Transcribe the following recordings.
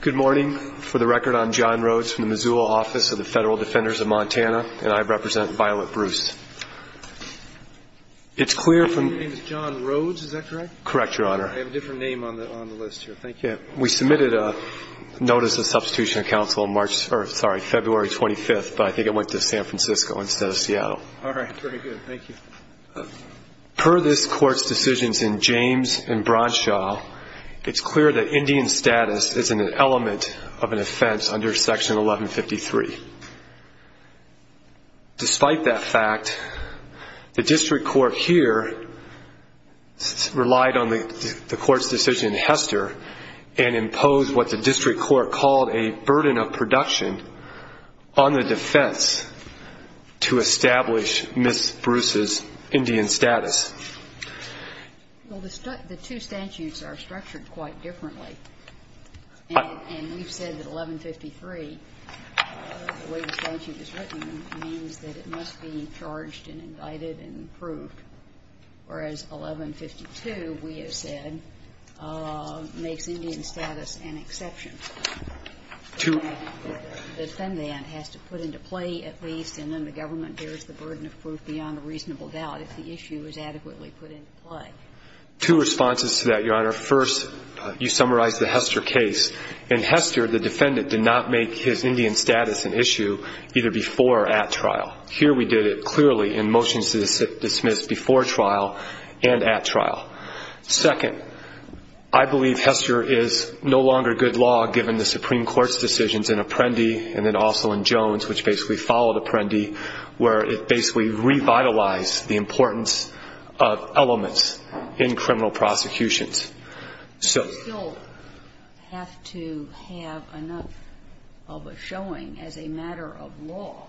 Good morning. For the record, I'm John Rhodes from the Missoula Office of the Federal Defenders of Montana, and I represent Violet Bruce. It's clear from Your name is John Rhodes, is that correct? Correct, Your Honor. I have a different name on the list here. Thank you. We submitted a notice of substitution of counsel on March, sorry, February 25th, but I think it went to San Francisco instead of Seattle. All right. Very good. Thank you. Per this court's decisions in James and Bronshaw, it's clear that Indian status isn't an element of an offense under Section 1153. Despite that fact, the district court here relied on the court's decision in Hester and imposed what the district court called a burden of production on the defense to establish Miss Bruce's Indian status. Well, the two statutes are structured quite differently. And we've said that 1153, the way the statute is written, means that it must be charged and indicted and approved. Whereas 1152, we have said, makes Indian status an exception. The defendant has to put into play at least, and then the government bears the burden of proof beyond a reasonable doubt if the issue is adequately put into play. Two responses to that, Your Honor. First, you summarized the Hester case. In Hester, the defendant did not make his Indian status an issue either before or at trial. Here we did it clearly in motions to dismiss before trial and at trial. Second, I believe Hester is no longer good law given the Supreme Court's decisions in Apprendi and then also in Jones, which basically followed Apprendi, where it basically revitalized the importance of elements in criminal prosecutions. So you still have to have enough of a showing as a matter of law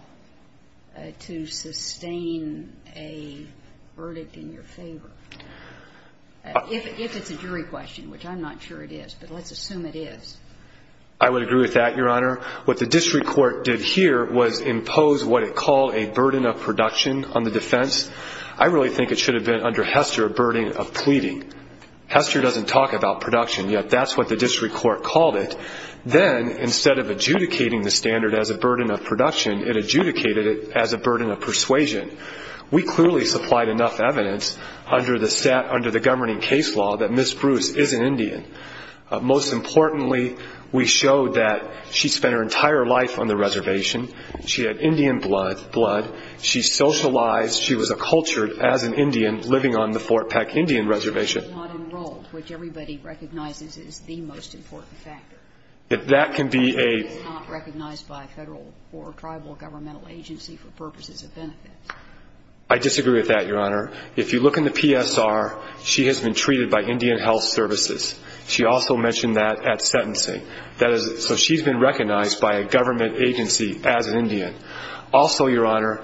to sustain a verdict in your favor. If it's a jury question, which I'm not sure it is, but let's assume it is. I would agree with that, Your Honor. What the district court did here was impose what it called a burden of production on the defense. I really think it should have been under Hester a burden of pleading. Hester doesn't talk about production, yet that's what the district court called it. Then, instead of adjudicating the standard as a burden of production, it adjudicated it as a burden of persuasion. We clearly supplied enough evidence under the governing case law that Ms. Bruce is an Indian. Most importantly, we showed that she spent her entire life on the reservation. She had Indian blood. She socialized. She was accultured as an Indian living on the Fort Peck Indian Reservation. She was not enrolled, which everybody recognizes is the most important factor. That can be a She was not recognized by a federal or tribal governmental agency for purposes of benefits. I disagree with that, Your Honor. If you look in the PSR, she has been treated by Indian Health Services. She also mentioned that at sentencing. So she's been recognized by a government agency as an Indian. Also, Your Honor,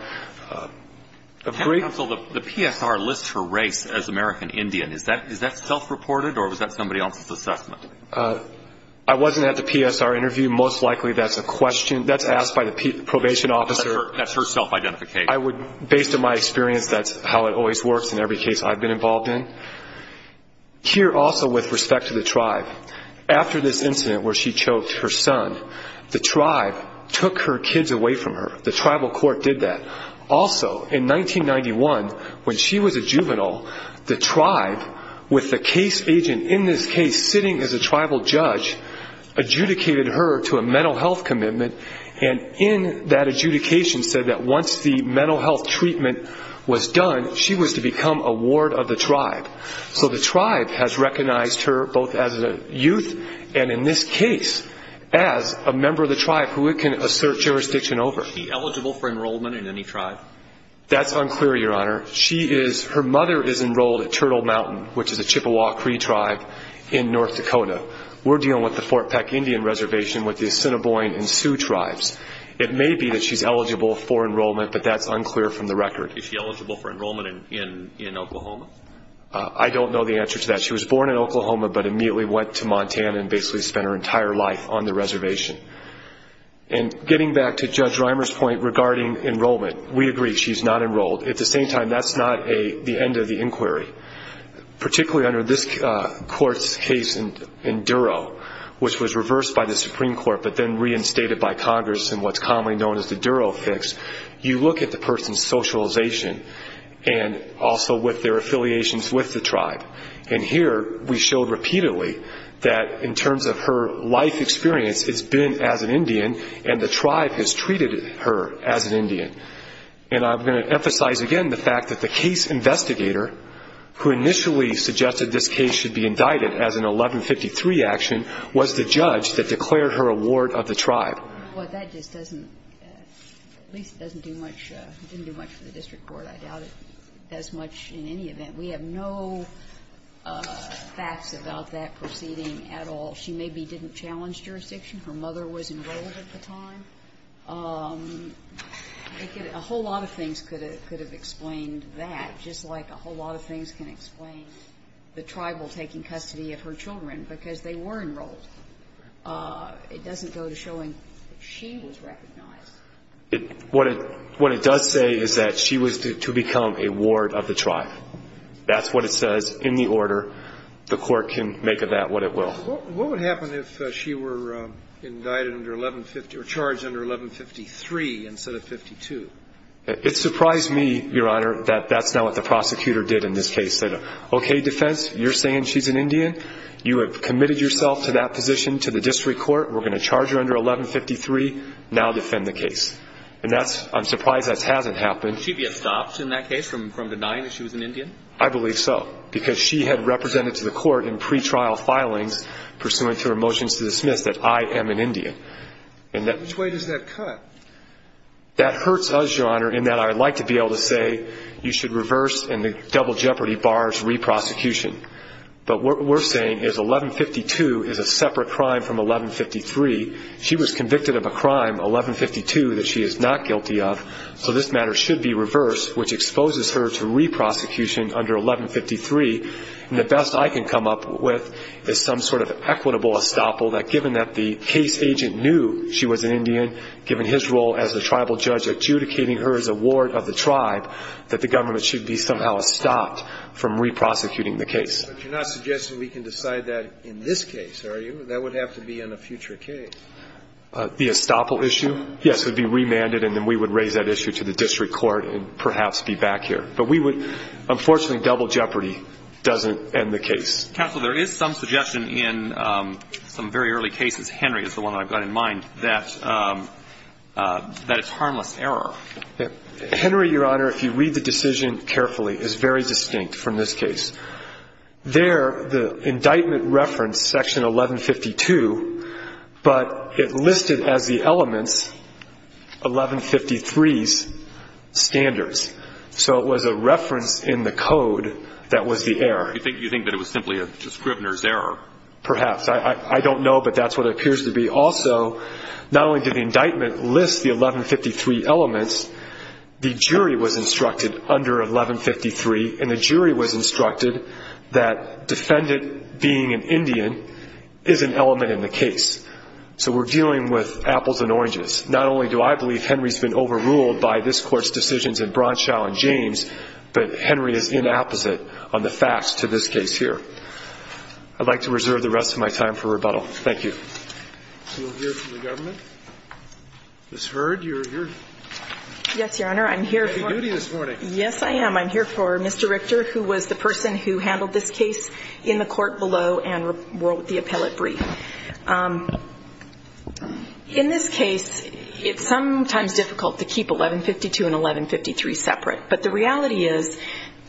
a great Counsel, the PSR lists her race as American Indian. Is that self-reported or was that somebody else's assessment? I wasn't at the PSR interview. Most likely that's a question. That's asked by the probation officer. That's her self-identification. Based on my experience, that's how it always works in every case I've been involved in. Here also, with respect to the tribe, after this incident where she choked her son, the tribe took her kids away from her. The tribal court did that. Also, in 1991, when she was a juvenile, the tribe, with the case agent in this case sitting as a tribal judge, adjudicated her to a mental health commitment, and in that adjudication said that once the mental health treatment was done, she was to become a ward of the tribe. So the tribe has recognized her both as a youth and in this case as a member of the tribe who it can assert jurisdiction over. Is she eligible for enrollment in any tribe? That's unclear, Your Honor. Her mother is enrolled at Turtle Mountain, which is a Chippewa Cree tribe in North Dakota. We're dealing with the Fort Peck Indian Reservation with the Assiniboine and Sioux tribes. It may be that she's eligible for enrollment, but that's unclear from the record. Is she eligible for enrollment in Oklahoma? I don't know the answer to that. She was born in Oklahoma but immediately went to Montana and basically spent her entire life on the reservation. And getting back to Judge Reimer's point regarding enrollment, we agree she's not enrolled. At the same time, that's not the end of the inquiry. Particularly under this court's case in Duro, which was reversed by the Supreme Court but then reinstated by Congress in what's commonly known as the Duro fix, you look at the person's socialization and also with their affiliations with the tribe. And here we showed repeatedly that in terms of her life experience, it's been as an Indian and the tribe has treated her as an Indian. And I'm going to emphasize again the fact that the case investigator who initially suggested this case should be indicted as an 1153 action was the judge that declared her award of the tribe. Well, that just doesn't do much for the district board, I doubt it does much in any event. We have no facts about that proceeding at all. She maybe didn't challenge jurisdiction. Her mother was enrolled at the time. A whole lot of things could have explained that, just like a whole lot of things can explain the tribal taking custody of her children because they were enrolled. It doesn't go to showing she was recognized. What it does say is that she was to become a ward of the tribe. That's what it says in the order. The court can make of that what it will. What would happen if she were charged under 1153 instead of 52? It surprised me, Your Honor, that that's not what the prosecutor did in this case. Said, okay, defense, you're saying she's an Indian. You have committed yourself to that position to the district court. We're going to charge her under 1153. Now defend the case. I'm surprised that hasn't happened. She'd be stopped in that case from denying that she was an Indian? I believe so because she had represented to the court in pretrial filings pursuant to her motions to dismiss that I am an Indian. Which way does that cut? That hurts us, Your Honor, in that I'd like to be able to say you should reverse and the double jeopardy bars re-prosecution. But what we're saying is 1152 is a separate crime from 1153. She was convicted of a crime, 1152, that she is not guilty of, so this matter should be reversed, which exposes her to re-prosecution under 1153. And the best I can come up with is some sort of equitable estoppel that, given that the case agent knew she was an Indian, given his role as the tribal judge adjudicating her as a ward of the tribe, that the government should be somehow stopped from re-prosecuting the case. But you're not suggesting we can decide that in this case, are you? That would have to be in a future case. The estoppel issue, yes, would be remanded, and then we would raise that issue to the district court and perhaps be back here. But we would – unfortunately, double jeopardy doesn't end the case. Counsel, there is some suggestion in some very early cases, Henry is the one I've got in mind, that it's harmless error. Henry, Your Honor, if you read the decision carefully, is very distinct from this case. There, the indictment referenced section 1152, but it listed as the elements 1153's standards. So it was a reference in the code that was the error. You think that it was simply a Scribner's error? Perhaps. I don't know, but that's what it appears to be. Also, not only did the indictment list the 1153 elements, the jury was instructed under 1153, and the jury was instructed that defendant being an Indian is an element in the case. So we're dealing with apples and oranges. Not only do I believe Henry's been overruled by this Court's decisions in Bronshaw and James, but Henry is in opposite on the facts to this case here. I'd like to reserve the rest of my time for rebuttal. Thank you. We'll hear from the government. Ms. Hurd, you're here. Yes, Your Honor. You're on duty this morning. Yes, I am. I'm here for Mr. Richter, who was the person who handled this case in the court below and wrote the appellate brief. In this case, it's sometimes difficult to keep 1152 and 1153 separate. But the reality is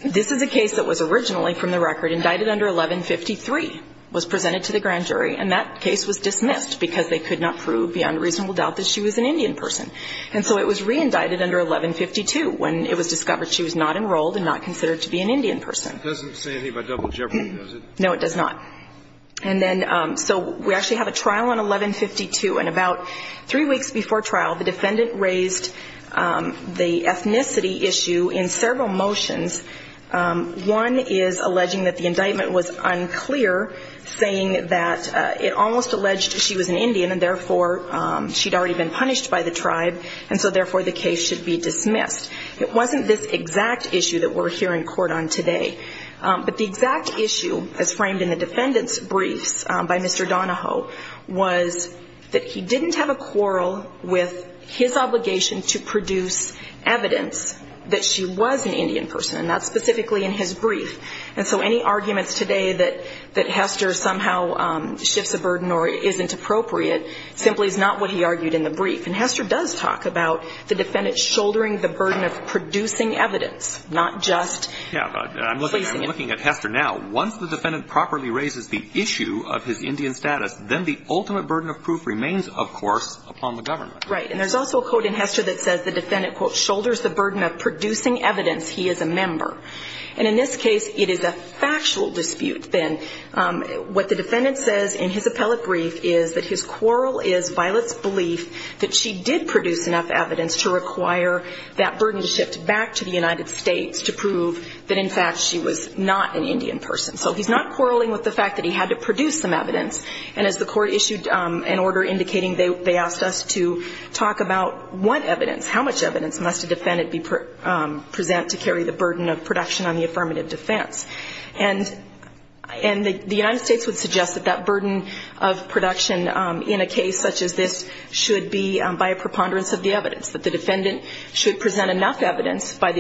this is a case that was originally from the record, indicted under 1153, was presented to the grand jury, and that case was dismissed because they could not prove beyond reasonable doubt that she was an Indian person. And so it was reindicted under 1152 when it was discovered she was not enrolled and not considered to be an Indian person. It doesn't say anything about double jeopardy, does it? No, it does not. And then so we actually have a trial on 1152, and about three weeks before trial the defendant raised the ethnicity issue in several motions. One is alleging that the indictment was unclear, saying that it almost alleged she was an Indian and, therefore, she'd already been punished by the tribe, and so, therefore, the case should be dismissed. It wasn't this exact issue that we're here in court on today. But the exact issue, as framed in the defendant's briefs by Mr. Donahoe, was that he didn't have a quarrel with his obligation to produce evidence that she was an Indian person, and that's specifically in his brief. And so any arguments today that Hester somehow shifts a burden or isn't appropriate simply is not what he argued in the brief. And Hester does talk about the defendant shouldering the burden of producing evidence, not just ---- Yeah, but I'm looking at Hester now. Once the defendant properly raises the issue of his Indian status, then the ultimate burden of proof remains, of course, upon the government. Right. And there's also a quote in Hester that says the defendant, quote, shoulders the burden of producing evidence he is a member. And in this case, it is a factual dispute then. What the defendant says in his appellate brief is that his quarrel is Violet's belief that she did produce enough evidence to require that burden to shift back to the United States to prove that, in fact, she was not an Indian person. So he's not quarreling with the fact that he had to produce some evidence. And as the Court issued an order indicating they asked us to talk about what evidence, how much evidence must a defendant present to carry the burden of production on the affirmative defense. And the United States would suggest that that burden of production in a case such as this should be by a preponderance of the evidence, that the defendant should present enough evidence by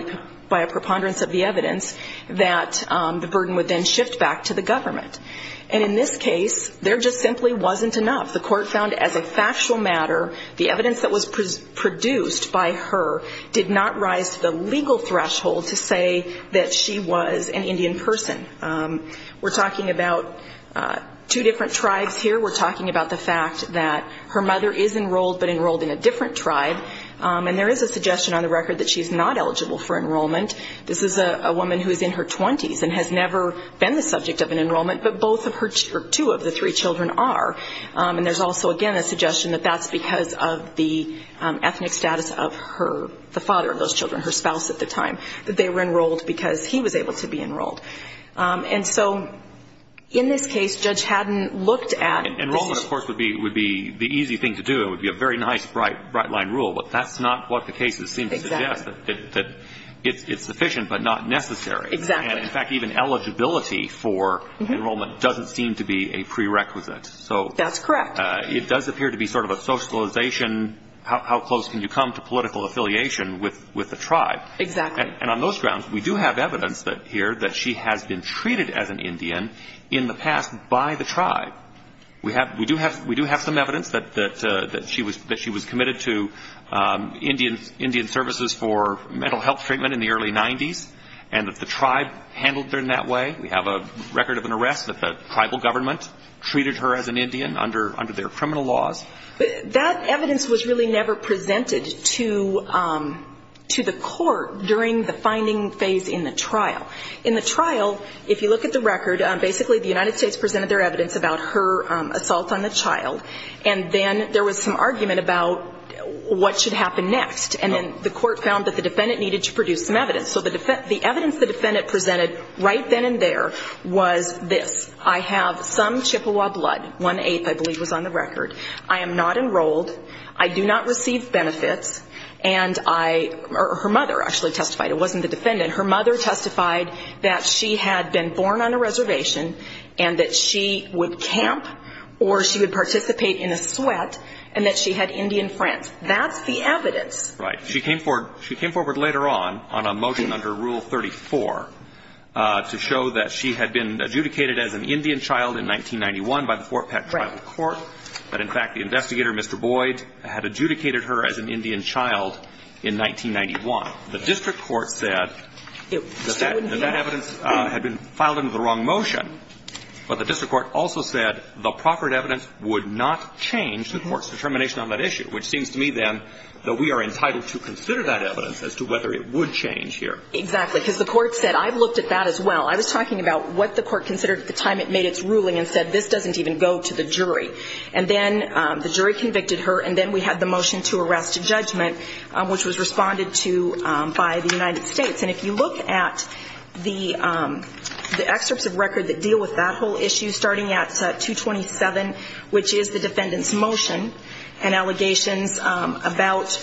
a preponderance of the evidence that the burden would then shift back to the government. And in this case, there just simply wasn't enough. The Court found, as a factual matter, the evidence that was produced by her did not rise to the legal threshold to say that she was an Indian person. We're talking about two different tribes here. We're talking about the fact that her mother is enrolled, but enrolled in a different tribe. And there is a suggestion on the record that she's not eligible for enrollment. This is a woman who is in her 20s and has never been the subject of an enrollment, but two of the three children are. And there's also, again, a suggestion that that's because of the ethnic status of the father of those children, her spouse at the time, that they were enrolled because he was able to be enrolled. And so in this case, Judge Haddon looked at... Enrollment, of course, would be the easy thing to do. It would be a very nice, bright-line rule. But that's not what the cases seem to suggest, that it's sufficient but not necessary. Exactly. And, in fact, even eligibility for enrollment doesn't seem to be a prerequisite. That's correct. So it does appear to be sort of a socialization, how close can you come to political affiliation with the tribe. Exactly. And on those grounds, we do have evidence here that she has been treated as an Indian in the past by the tribe. We do have some evidence that she was committed to Indian services for mental health treatment in the early 90s and that the tribe handled her in that way. We have a record of an arrest that the tribal government treated her as an Indian under their criminal laws. That evidence was really never presented to the court during the finding phase in the trial. In the trial, if you look at the record, basically the United States presented their evidence about her assault on the child. And then there was some argument about what should happen next. And then the court found that the defendant needed to produce some evidence. So the evidence the defendant presented right then and there was this. I have some Chippewa blood. One-eighth, I believe, was on the record. I am not enrolled. I do not receive benefits. And I or her mother actually testified. It wasn't the defendant. Her mother testified that she had been born on a reservation and that she would camp or she would participate in a sweat and that she had Indian friends. That's the evidence. Right. She came forward later on on a motion under Rule 34 to show that she had been adjudicated as an Indian child in 1991 by the Fort Peck Tribal Court. But, in fact, the investigator, Mr. Boyd, had adjudicated her as an Indian child in 1991. The district court said that that evidence had been filed under the wrong motion, but the district court also said the proper evidence would not change the court's as to whether it would change here. Exactly. Because the court said, I've looked at that as well. I was talking about what the court considered at the time it made its ruling and said, this doesn't even go to the jury. And then the jury convicted her, and then we had the motion to arrest a judgment, which was responded to by the United States. And if you look at the excerpts of record that deal with that whole issue, starting at 227, which is the defendant's motion and allegations about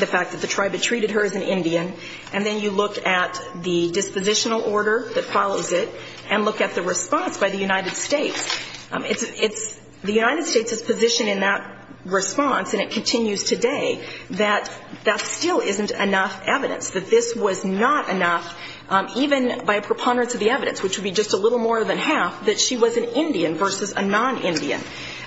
the fact that the tribe had treated her as an Indian, and then you look at the dispositional order that follows it and look at the response by the United States, it's the United States' position in that response, and it continues today, that that still isn't enough evidence, that this was not enough, even by a preponderance of the evidence, which would be just a little more than half, that she was an Indian versus a non-Indian.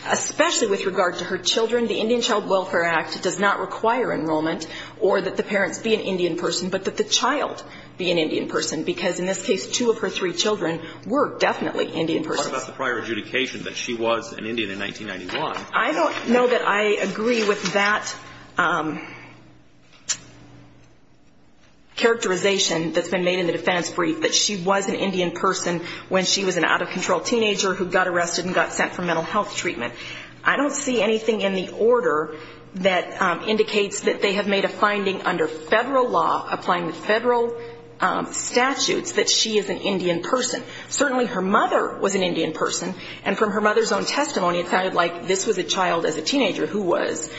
Especially with regard to her children, the Indian Child Welfare Act does not require enrollment or that the parents be an Indian person, but that the child be an Indian person, because in this case, two of her three children were definitely Indian persons. You talked about the prior adjudication that she was an Indian in 1991. I don't know that I agree with that characterization that's been made in the defense brief, that she was an Indian person when she was an out-of-control teenager who got arrested and got sent for mental health treatment. I don't see anything in the order that indicates that they have made a finding under federal law, applying the federal statutes, that she is an Indian person. Certainly her mother was an Indian person, and from her mother's own testimony, it sounded like this was a child as a teenager who was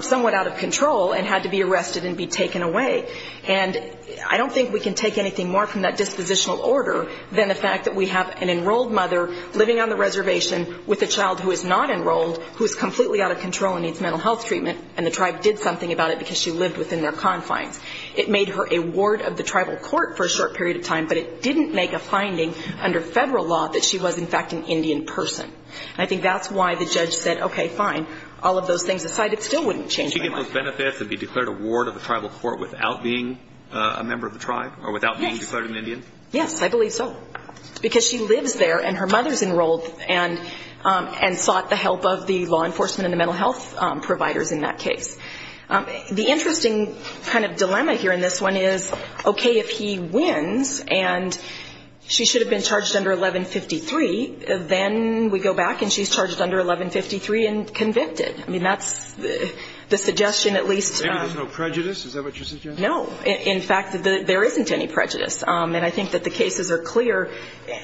somewhat out of control and had to be arrested and be taken away. And I don't think we can take anything more from that dispositional order than the fact that we have an enrolled mother living on the reservation with a child who is not enrolled, who is completely out of control and needs mental health treatment, and the tribe did something about it because she lived within their confines. It made her a ward of the tribal court for a short period of time, but it didn't make a finding under federal law that she was in fact an Indian person. And I think that's why the judge said, okay, fine, all of those things aside, it still wouldn't change my mind. Would she have benefits and be declared a ward of the tribal court without being a member of the tribe, or without being declared an Indian? Yes, I believe so, because she lives there and her mother is enrolled and sought the help of the law enforcement and the mental health providers in that case. The interesting kind of dilemma here in this one is, okay, if he wins and she should have been charged under 1153, then we go back and she's charged under 1153 and convicted. I mean, that's the suggestion at least. Maybe there's no prejudice. Is that what you're suggesting? No. In fact, there isn't any prejudice. And I think that the cases are clear,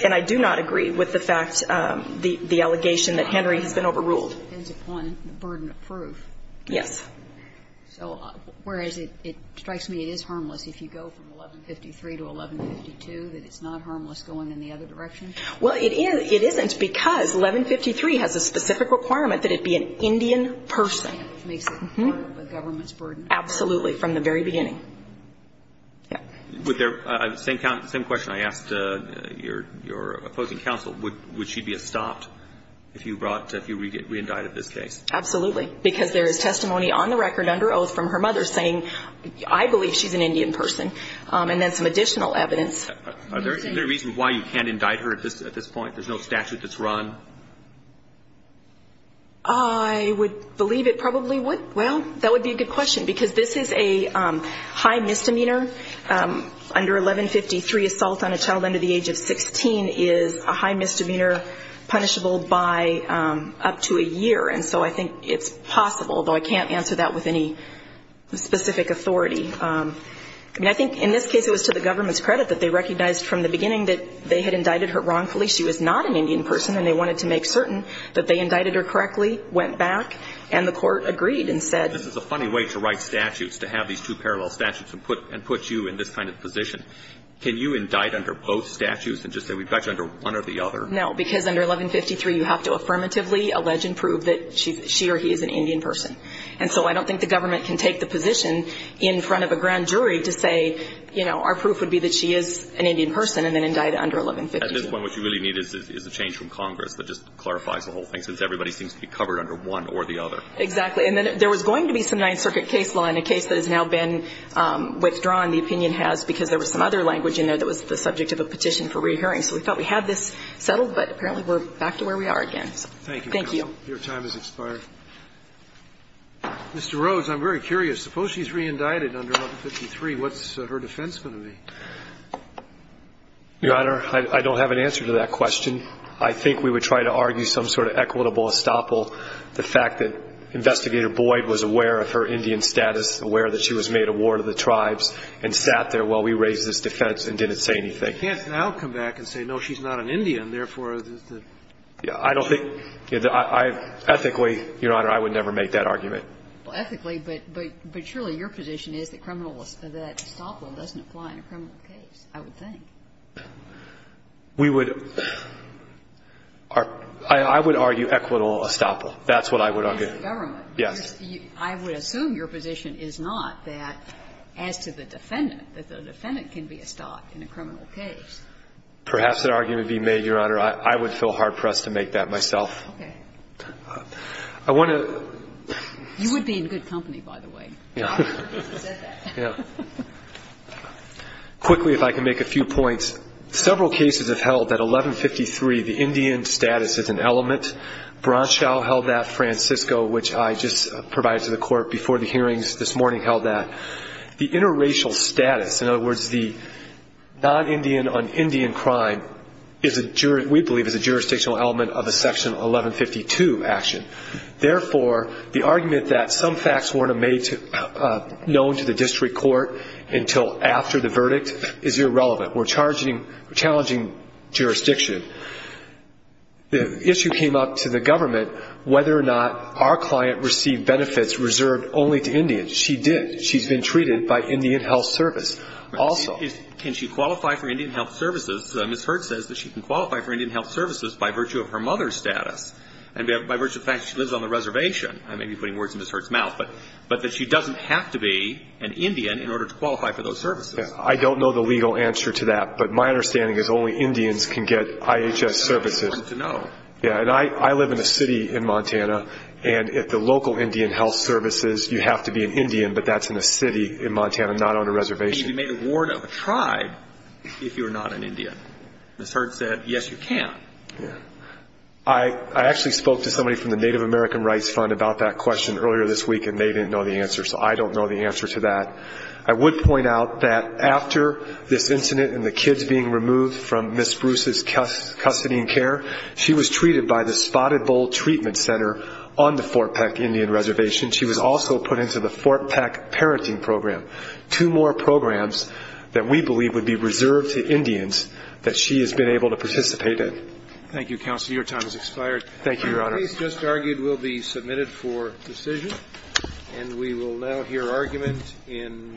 and I do not agree with the fact, the allegation that Henry has been overruled. It depends upon the burden of proof. Yes. So whereas it strikes me it is harmless if you go from 1153 to 1152, that it's not harmless going in the other direction? Well, it isn't, because 1153 has a specific requirement that it be an Indian person. Makes it part of the government's burden. Absolutely, from the very beginning. Same question. I asked your opposing counsel, would she be stopped if you brought, if you reindicted this case? Absolutely, because there is testimony on the record under oath from her mother saying, I believe she's an Indian person, and then some additional evidence. Are there reasons why you can't indict her at this point? There's no statute that's run? I would believe it probably would. Well, that would be a good question, because this is a high misdemeanor. Under 1153, assault on a child under the age of 16 is a high misdemeanor punishable by up to a year. And so I think it's possible, though I can't answer that with any specific authority. I mean, I think in this case it was to the government's credit that they recognized from the beginning that they had indicted her wrongfully. She was not an Indian person, and they wanted to make certain that they indicted her correctly, went back, and the court agreed and said. This is a funny way to write statutes, to have these two parallel statutes and put you in this kind of position. Can you indict under both statutes and just say we've got you under one or the other? No, because under 1153, you have to affirmatively allege and prove that she or he is an Indian person. And so I don't think the government can take the position in front of a grand jury to say, you know, our proof would be that she is an Indian person and then indict under 1153. At this point, what you really need is a change from Congress that just clarifies the whole thing, since everybody seems to be covered under one or the other. Exactly. And then there was going to be some Ninth Circuit case law in a case that has now been withdrawn. The opinion has, because there was some other language in there that was the subject of a petition for re-hearing. So we thought we had this settled, but apparently we're back to where we are again. Thank you, counsel. Thank you. Your time has expired. Mr. Rhodes, I'm very curious. Suppose she's re-indicted under 1153. What's her defense going to be? Your Honor, I don't have an answer to that question. I think we would try to argue some sort of equitable estoppel, the fact that Investigator Boyd was aware of her Indian status, aware that she was made a ward of the tribes and sat there while we raised this defense and didn't say anything. You can't now come back and say, no, she's not an Indian, therefore, there's the issue. I don't think, ethically, Your Honor, I would never make that argument. Well, ethically, but surely your position is that criminal, that estoppel doesn't apply in a criminal case, I would think. We would argue equitable estoppel. That's what I would argue. Yes. I would assume your position is not that, as to the defendant, that the defendant can be estopped in a criminal case. Perhaps that argument would be made, Your Honor. I would feel hard-pressed to make that myself. Okay. I want to... You would be in good company, by the way. Yeah. Yeah. Quickly, if I can make a few points. Several cases have held that 1153, the Indian status is an element. Bronshaw held that, Francisco, which I just provided to the Court before the hearings this morning, held that. The interracial status, in other words, the non-Indian on Indian crime, is a jury element, which we believe is a jurisdictional element of a Section 1152 action. Therefore, the argument that some facts weren't made known to the district court until after the verdict is irrelevant. We're challenging jurisdiction. The issue came up to the government whether or not our client received benefits reserved only to Indians. She did. She's been treated by Indian Health Service also. Can she qualify for Indian Health Services? Ms. Hurt says that she can qualify for Indian Health Services by virtue of her mother's status and by virtue of the fact that she lives on the reservation. I may be putting words in Ms. Hurt's mouth, but that she doesn't have to be an Indian in order to qualify for those services. Yeah. I don't know the legal answer to that, but my understanding is only Indians can get IHS services. It's hard to know. Yeah. And I live in a city in Montana. And at the local Indian Health Services, you have to be an Indian, but that's in a city in Montana, not on a reservation. You need to be made a ward of a tribe if you're not an Indian. Ms. Hurt said, yes, you can. Yeah. I actually spoke to somebody from the Native American Rights Fund about that question earlier this week, and they didn't know the answer. So I don't know the answer to that. I would point out that after this incident and the kids being removed from Ms. Bruce's custody and care, she was treated by the Spotted Bull Treatment Center on the Fort Peck Indian Reservation. She was also put into the Fort Peck Parenting Program. Two more programs that we believe would be reserved to Indians that she has been able to participate in. Thank you, Counselor. Your time has expired. Thank you, Your Honor. The case just argued will be submitted for decision, and we will now hear argument in National Court of Appeals.